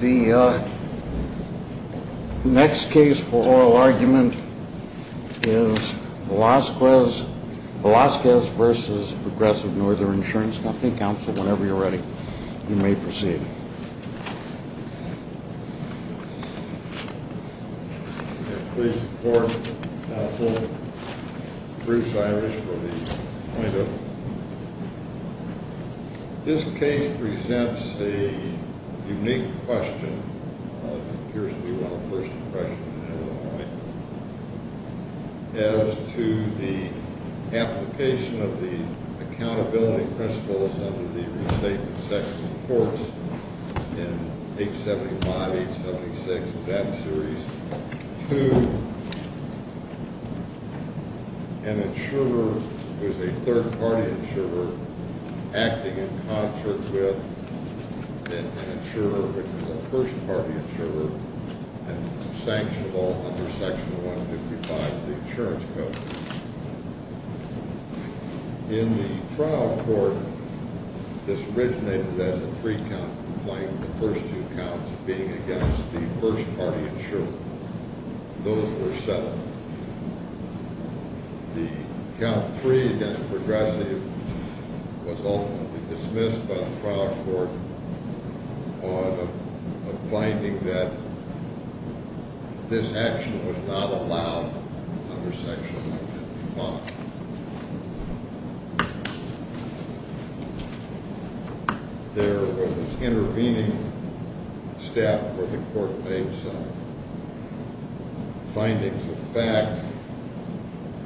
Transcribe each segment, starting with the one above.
The next case for oral argument is Velazquez v. Progressive Northern Insurance Company. Counsel, whenever you're ready, you may proceed. Please support counsel Bruce Irish for the point of view. This case presents a unique question. It appears to be one of the first in the question. As to the application of the accountability principles under the restatement section of the courts in 875-876 of that series to an insurer who is a third-party insurer acting in concert with an insurer who is a first-party insurer and sanctionable under section 155 of the insurance code. In the trial court, this originated as a three-count complaint, the first two counts being against the first-party insurer. Those were settled. The count three against Progressive was ultimately dismissed by the trial court on a finding that this action was not allowed under section 155. There was intervening staff where the court made some findings of fact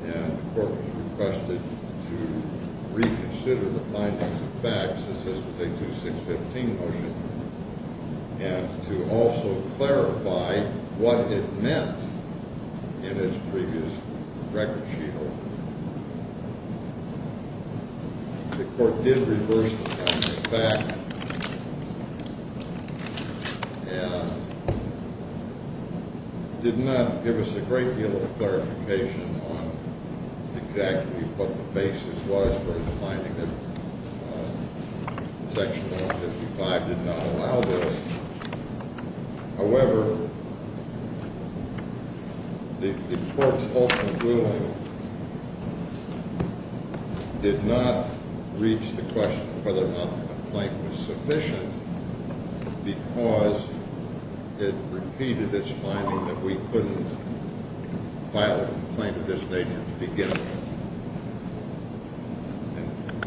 and the court was requested to reconsider the findings of fact since this was a 2615 motion and to also clarify what it meant in its previous record sheet. The court did reverse the findings of fact and did not give us a great deal of clarification on exactly what the basis was for the finding that section 155 did not allow this. However, the court's ultimate ruling did not reach the question of whether or not the complaint was sufficient because it repeated its finding that we couldn't file a complaint of this nature to begin with.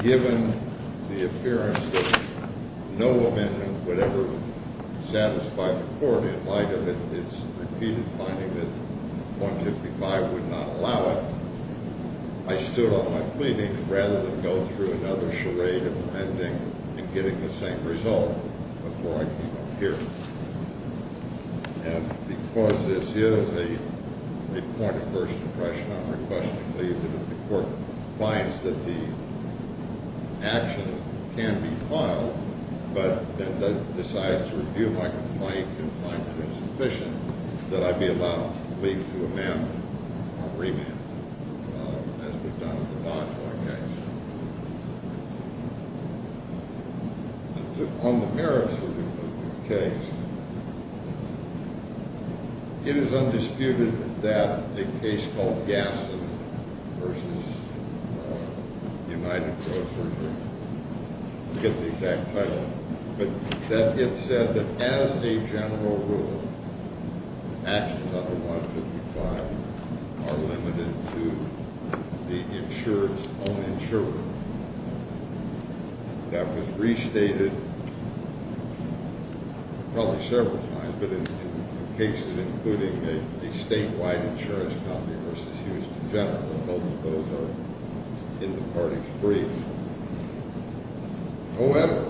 Given the appearance that no amendment would ever satisfy the court in light of its repeated finding that section 155 would not allow it, I stood on my pleading rather than go through another charade of amending and getting the same result before I came up here. And because this is a point of first impression, I'm requesting that if the court finds that the action can be filed but then decides to review my complaint and finds it insufficient, that I be allowed to leave to amend or remand it as we've done with the Boshaw case. On the merits of the case, it is undisputed that a case called Gasson v. United Grocers, I forget the exact title, but that it said that as a general rule, actions under section 155 are limited to the insurer's own insurer. That was restated probably several times, but in cases including the statewide insurance company v. Houston General, both of those are in the party's brief. However,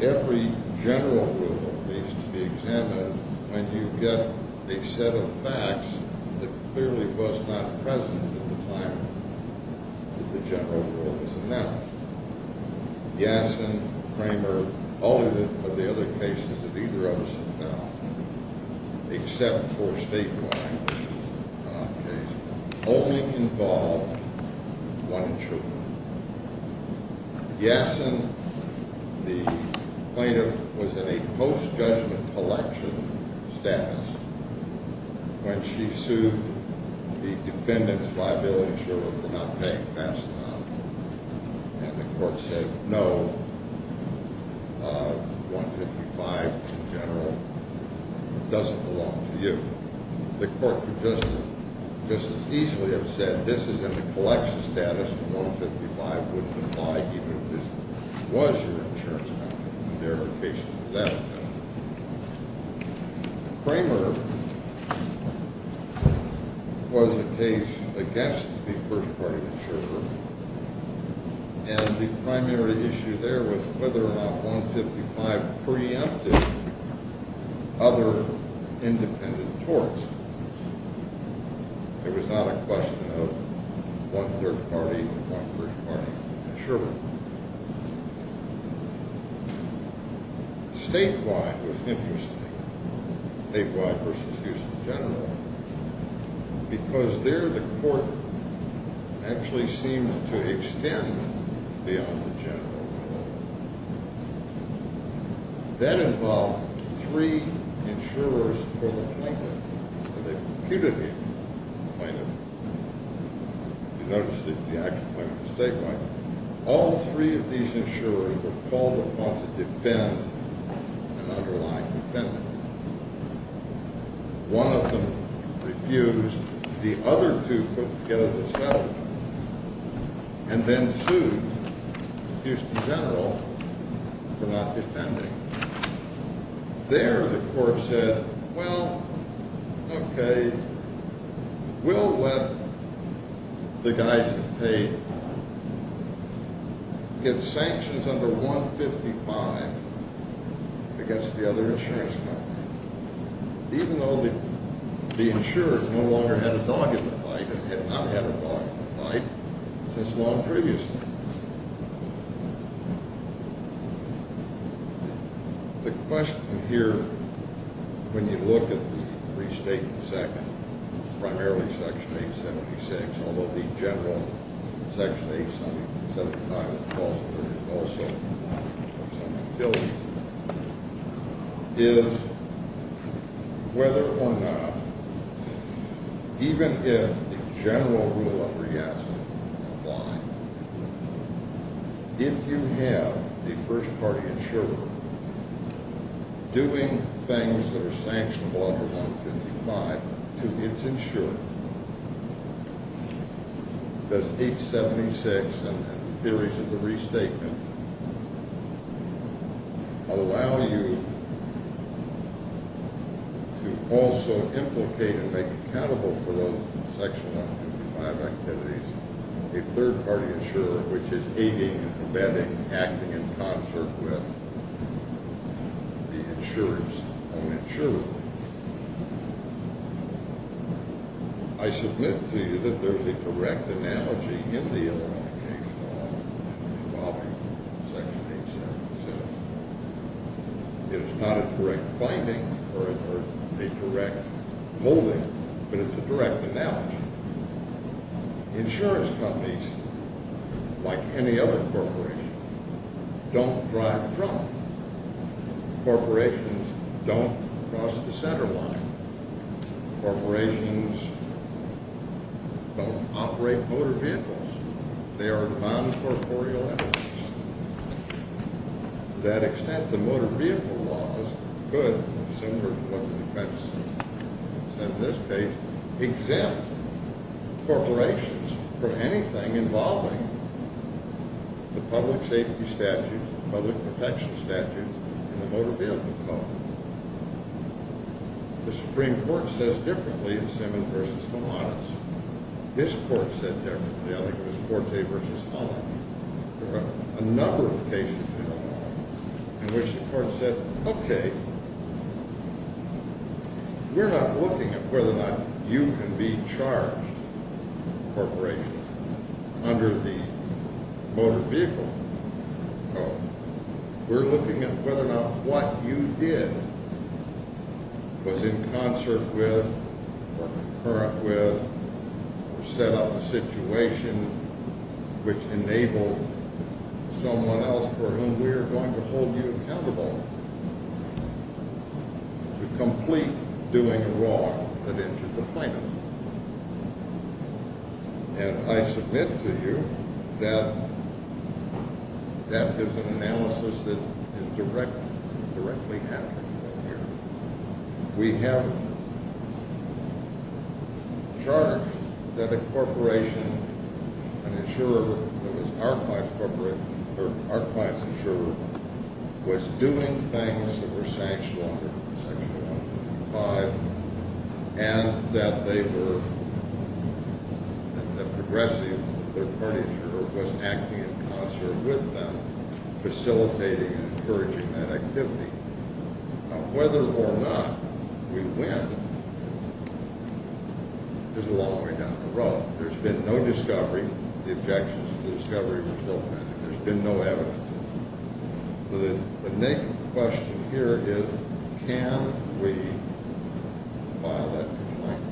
every general rule needs to be examined when you get a set of facts that clearly was not present at the time that the general rule was announced. Gasson, Kramer, all of it, but the other cases that either of us have found, except for statewide, which is not our case, only involved one insurer. Gasson, the plaintiff, was in a post-judgment collection status when she sued the defendant's liability insurer for not paying fast enough, and the court said, No, 155 in general doesn't belong to you. The court could just as easily have said, This is in the collection status, and 155 wouldn't apply even if this was your insurance company. There are cases of that kind. Kramer was a case against the first party insurer, and the primary issue there was whether or not 155 preempted other independent torts. It was not a question of one third party or one first party insurer. Statewide was interesting, statewide v. Houston General, because there the court actually seemed to extend beyond the general rule. That involved three insurers for the plaintiff, and they reputed the plaintiff. You notice the action point of the statewide. All three of these insurers were called upon to defend an underlying defendant. One of them refused. The other two put together the settlement and then sued Houston General for not defending. There the court said, Well, okay, we'll let the guys who paid get sanctions under 155 against the other insurance company, even though the insurer no longer had a dog in the fight and had not had a dog in the fight since long previously. The question here, when you look at the restatement of the second, primarily Section 876, although the general Section 875 also has some utility, is whether or not, even if the general rule of reaction applied, if you have a first party insurer doing things that are sanctionable under 155 to its insurer, does 876 and theories of the restatement allow you to also implicate and make accountable for those Section 155 activities a third party insurer, which is aiding and abetting, acting in concert with the insurer's own insurer? I submit to you that there's a correct analogy in the Illinois case law involving Section 877. It is not a correct finding or a correct molding, but it's a direct analogy. Insurance companies, like any other corporation, don't drive drunk. Corporations don't cross the center line. Corporations don't operate motor vehicles. They are non-corporeal entities. To that extent, the motor vehicle laws could, similar to what the defense said in this case, exempt corporations from anything involving the public safety statute, the public protection statute, and the motor vehicle code. The Supreme Court says differently in Simmons v. Thomas. This court said differently. I think it was Forte v. Holland. There were a number of cases in Illinois in which the court said, Okay, we're not looking at whether or not you can be charged corporately under the motor vehicle code. We're looking at whether or not what you did was in concert with or concurrent with or set up a situation which enabled someone else for whom we are going to hold you accountable. To complete doing wrong that injured the plaintiff. And I submit to you that that is an analysis that is directly happening here. We have charged that a corporation, an insurer that was our client's insurer, was doing things that were sanctioned under Section 105 and that the progressive, their party insurer, was acting in concert with them, facilitating and encouraging that activity. Now whether or not we win is a long way down the road. There's been no discovery. The objections to the discovery were still present. There's been no evidence. The naked question here is can we file that complaint?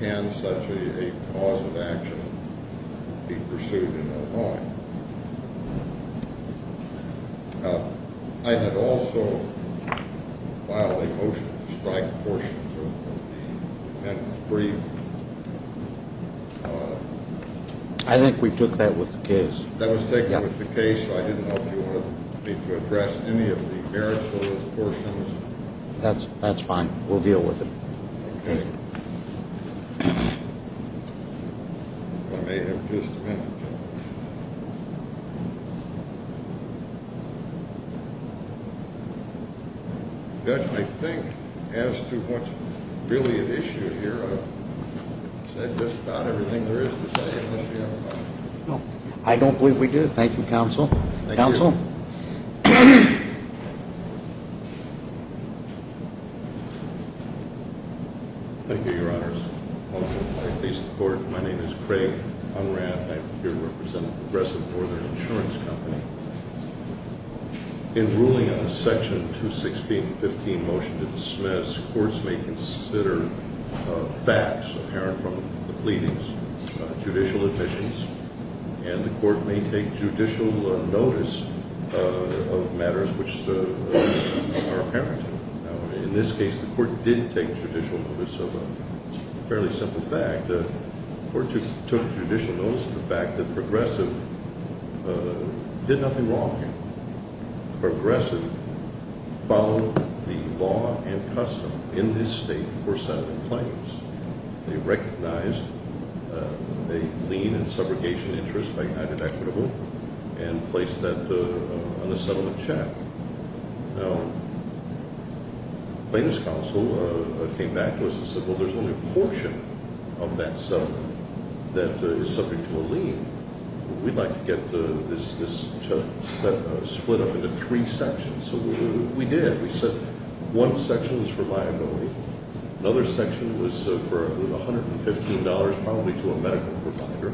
Can such a cause of action be pursued in Illinois? I had also filed a motion to strike portions of the amendment brief. I think we took that with the case. That was taken with the case. I didn't know if you wanted me to address any of the merits of those portions. That's fine. We'll deal with it. Okay. If I may have just a minute. Judge, I think as to what's really at issue here, I've said just about everything there is to say, unless you have a comment. I don't believe we do. Thank you, counsel. Thank you. Counsel? Thank you, Your Honors. Welcome. I please the court. My name is Craig Unrath. I'm here to represent the Progressive Northern Insurance Company. In ruling on the Section 216.15 motion to dismiss, courts may consider facts inherent from the pleadings, judicial admissions, and the court may take judicial notice of matters which are apparent. In this case, the court did take judicial notice of a fairly simple fact. The court took judicial notice of the fact that Progressive did nothing wrong here. Progressive followed the law and custom in this state for settlement claims. They recognized a lien and subrogation interest by United Equitable and placed that on the settlement check. Now, plaintiff's counsel came back to us and said, well, there's only a portion of that settlement that is subject to a lien. We'd like to get this split up into three sections. So we did. We said one section was for liability. Another section was for $115, probably to a medical provider.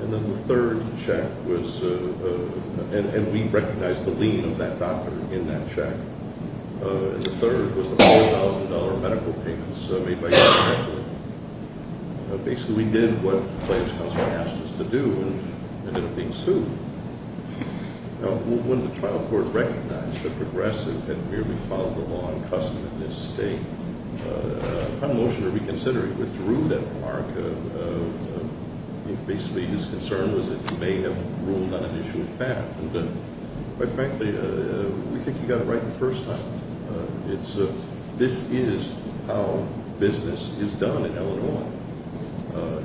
And then the third check was, and we recognized the lien of that doctor in that check. And the third was the $4,000 medical payments made by United Equitable. Basically, we did what plaintiff's counsel asked us to do and ended up being sued. Now, when the trial court recognized that Progressive had merely followed the law and custom in this state, a motion to reconsider withdrew that remark. Basically, his concern was that he may have ruled on an issue of fact. And quite frankly, we think he got it right the first time. This is how business is done in Illinois.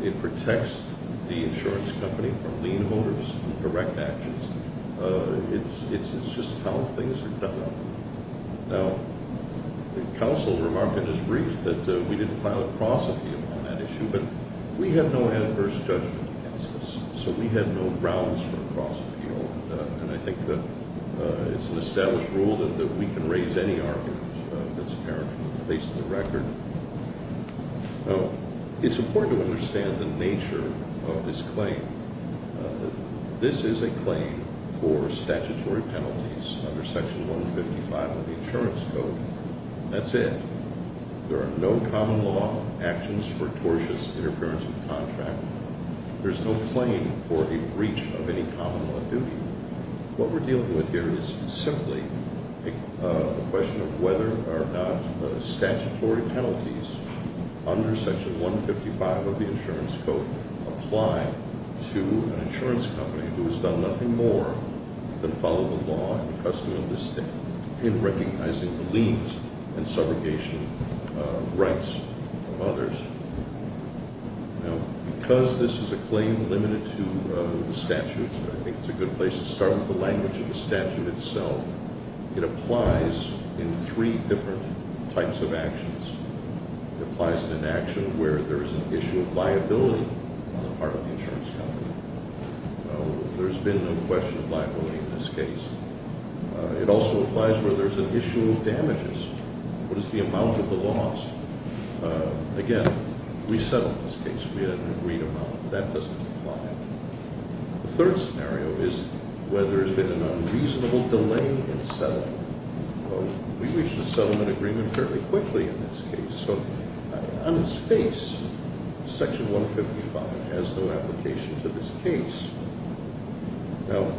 It protects the insurance company from lien holders and correct actions. It's just how things are done. Now, the counsel remarked in his brief that we didn't file a cross appeal on that issue, but we have no adverse judgment against this, so we have no grounds for a cross appeal. And I think that it's an established rule that we can raise any argument that's apparent from the face of the record. Now, it's important to understand the nature of this claim. This is a claim for statutory penalties under Section 155 of the Insurance Code. That's it. There are no common law actions for tortious interference with contract. There's no claim for a breach of any common law duty. What we're dealing with here is simply a question of whether or not statutory penalties under Section 155 of the Insurance Code apply to an insurance company who has done nothing more than follow the law and the custom of the state in recognizing the liens and subrogation rights of others. Now, because this is a claim limited to the statutes, I think it's a good place to start with the language of the statute itself. It applies in three different types of actions. It applies to an action where there's an issue of liability on the part of the insurance company. There's been no question of liability in this case. It also applies where there's an issue of damages. What is the amount of the loss? Again, we settled this case. We had an agreed amount. That doesn't apply. The third scenario is where there's been an unreasonable delay in settling. We reached a settlement agreement fairly quickly in this case. So, on its face, Section 155 has no application to this case. Now,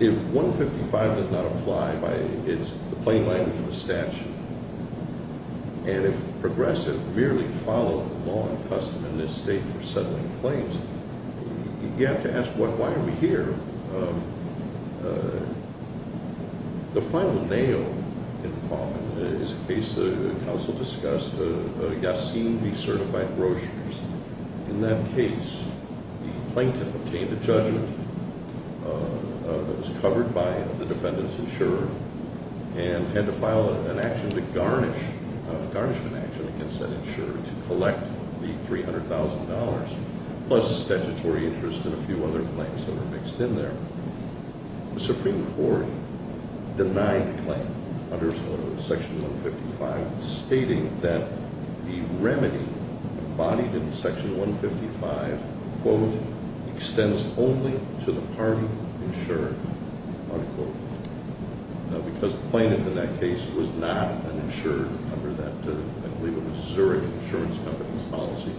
if 155 does not apply, it's the plain language of the statute. And if progressives merely follow the law and custom in this state for settling claims, you have to ask, why are we here? The final nail in the coffin is a case the counsel discussed, Yassine v. Certified Brochures. In that case, the plaintiff obtained a judgment that was covered by the defendant's insurer and had to file an action to garnish, a garnishment action against that insurer to collect the $300,000, plus statutory interest and a few other claims that were mixed in there. The Supreme Court denied the claim under Section 155, stating that the remedy embodied in Section 155, quote, extends only to the party insured, unquote. Now, because the plaintiff in that case was not an insurer under that, I believe it was Zurich Insurance Company's policy.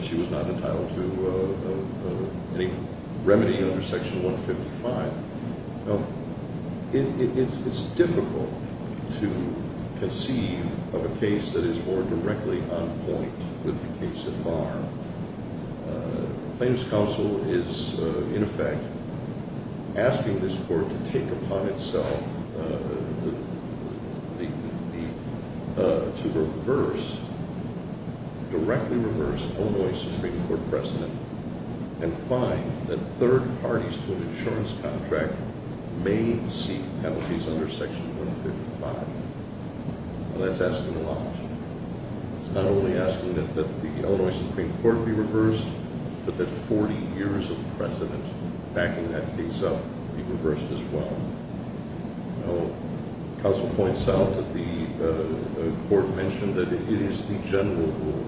She was not entitled to any remedy under Section 155. Now, it's difficult to conceive of a case that is more directly on point with the case so far. The plaintiff's counsel is, in effect, asking this court to take upon itself to reverse, directly reverse Illinois Supreme Court precedent and find that third parties to an insurance contract may seek penalties under Section 155. Well, that's asking a lot. It's not only asking that the Illinois Supreme Court be reversed, but that 40 years of precedent backing that case up be reversed as well. Now, counsel points out that the court mentioned that it is the general rule.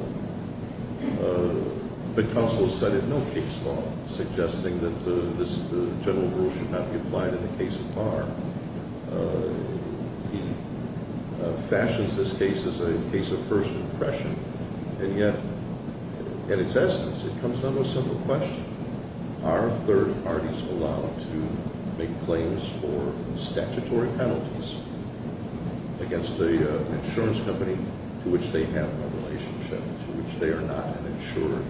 But counsel has cited no case law suggesting that this general rule should not be applied in a case of bar. He fashions this case as a case of first impression. And yet, in its essence, it comes down to a simple question. Are third parties allowed to make claims for statutory penalties against an insurance company to which they have no relationship, to which they are not an insurer?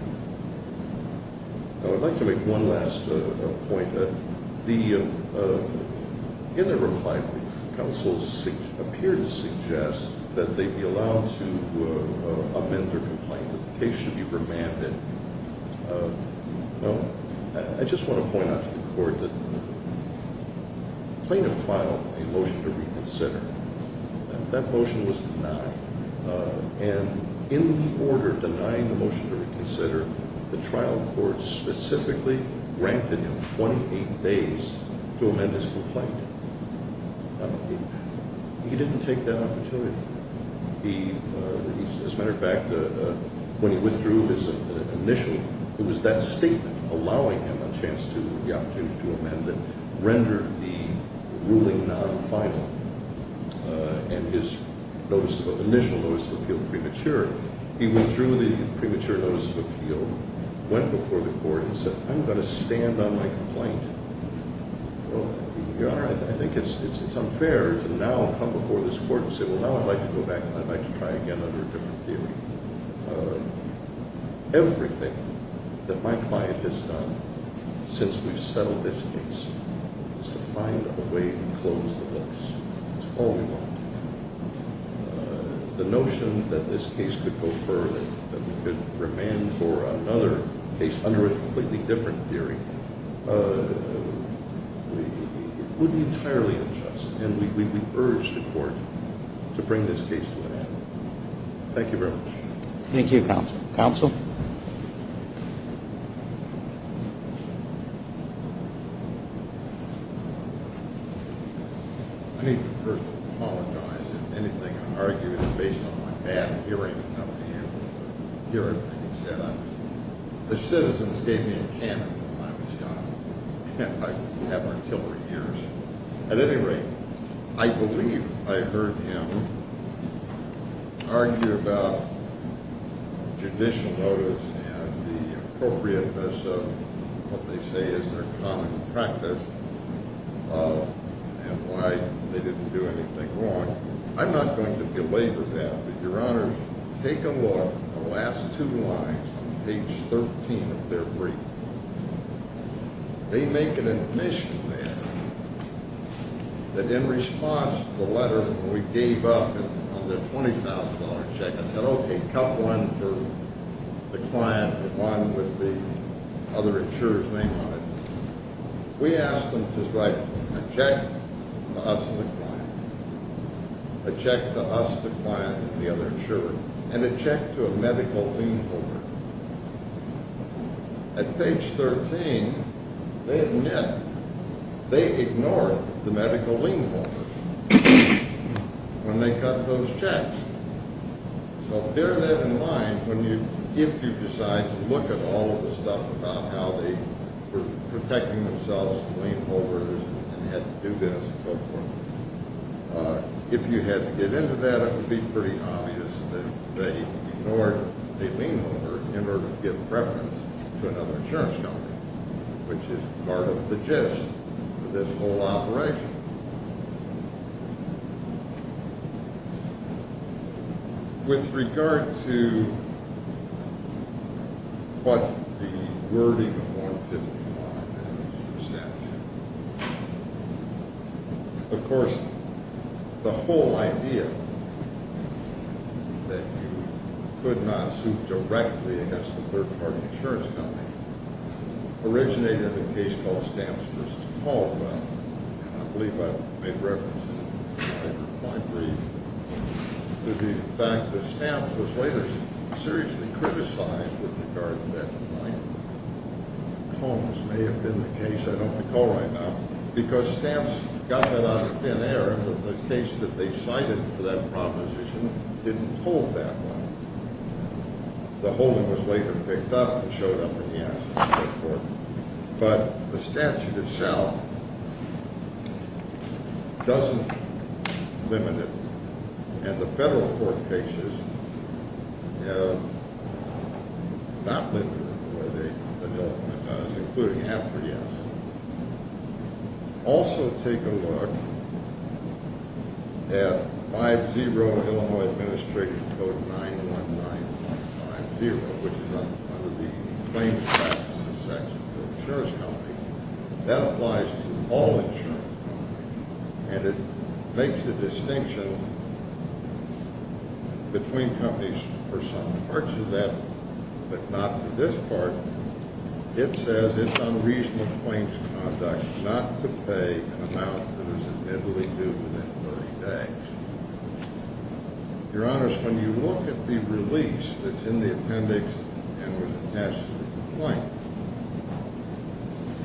Now, I'd like to make one last point. In the reply brief, counsels appear to suggest that they be allowed to amend their complaint. The case should be remanded. Now, I just want to point out to the court that the plaintiff filed a motion to reconsider. That motion was denied. And in the order denying the motion to reconsider, the trial court specifically granted him 28 days to amend his complaint. He didn't take that opportunity. As a matter of fact, when he withdrew his initial, it was that statement allowing him a chance to, the opportunity to amend that rendered the ruling non-final. And his initial notice of appeal premature. He withdrew the premature notice of appeal, went before the court and said, I'm going to stand on my complaint. Your Honor, I think it's unfair to now come before this court and say, well, now I'd like to go back and I'd like to try again under a different theory. Everything that my client has done since we've settled this case is to find a way to close the books. That's all we want. The notion that this case could go further, that we could remand for another case under a completely different theory would be entirely unjust. And we urge the court to bring this case to an end. Thank you very much. Thank you, counsel. Counsel? I need to first apologize if anything I argue is based on my bad hearing of the hearing that you've set up. The citizens gave me a cannon when I was young, and I have artillery ears. At any rate, I believe I heard him argue about judicial notice and the appropriateness of what they say is their common practice and why they didn't do anything wrong. I'm not going to belabor that, but, Your Honors, take a look at the last two lines on page 13 of their brief. They make an admission there that in response to the letter we gave up on their $20,000 check, I said, okay, cut one for the client, but one with the other insurer's name on it. We asked them to write a check to us and the client, a check to us, the client, and the other insurer, and a check to a medical lien holder. At page 13, they admit they ignored the medical lien holders when they cut those checks. So bear that in mind if you decide to look at all of the stuff about how they were protecting themselves from lien holders and had to do this and so forth. If you had to get into that, it would be pretty obvious that they ignored a lien holder in order to give preference to another insurance company, which is part of the gist of this whole operation. With regard to what the wording of 151 is in the statute, of course, the whole idea that you could not sue directly against a third-party insurance company originated in a case called Stamps v. Caldwell. I believe I made reference in my brief to the fact that Stamps was later seriously criticized with regard to that point. Holmes may have been the case. I don't recall right now. Because Stamps got that out of thin air that the case that they cited for that proposition didn't hold that well. The holding was later picked up and showed up in the assets and so forth. But the statute itself doesn't limit it. Also take a look at 50 Illinois Administrative Code 919.50, which is under the claims practices section for insurance companies. That applies to all insurance companies. And it makes a distinction between companies for some parts of that, but not for this part. It says it's unreasonable claims conduct not to pay an amount that is admittedly due within 30 days. Your Honors, when you look at the release that's in the appendix and with the test complaint,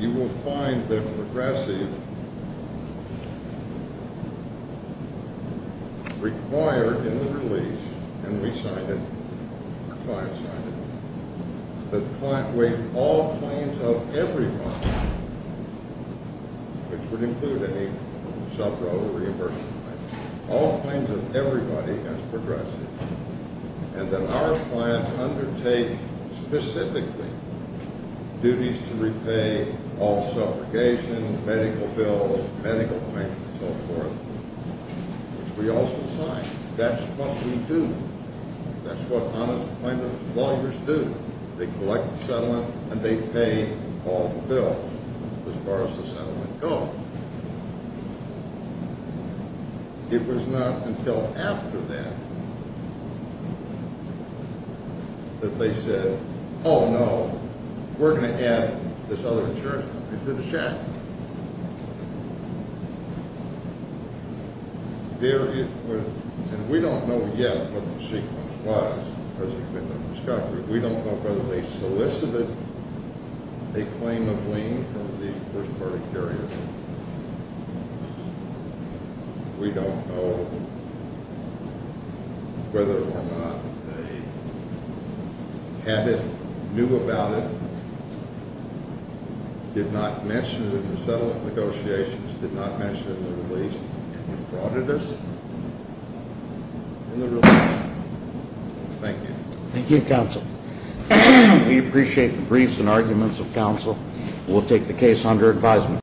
you will find that Progressive required in the release, and we signed it, the client signed it, that the client waived all claims of every bond, which would include any self-governing reimbursement claim. All claims of everybody as Progressive. And that our clients undertake specifically duties to repay all suffragation, medical bills, medical payments, and so forth, which we also signed. That's what we do. That's what Honest Claimant lawyers do. They collect the settlement and they pay all the bills as far as the settlement goes. It was not until after that that they said, oh, no, we're going to add this other insurance company to the check. And we don't know yet what the sequence was. We don't know whether they solicited a claim of lien from the first party carrier. We don't know whether or not they had it, knew about it, did not mention it in the settlement negotiations, did not mention it in the release, and defrauded us in the release. Thank you. Thank you, Counsel. We appreciate the briefs and arguments of Counsel. We'll take the case under advisement.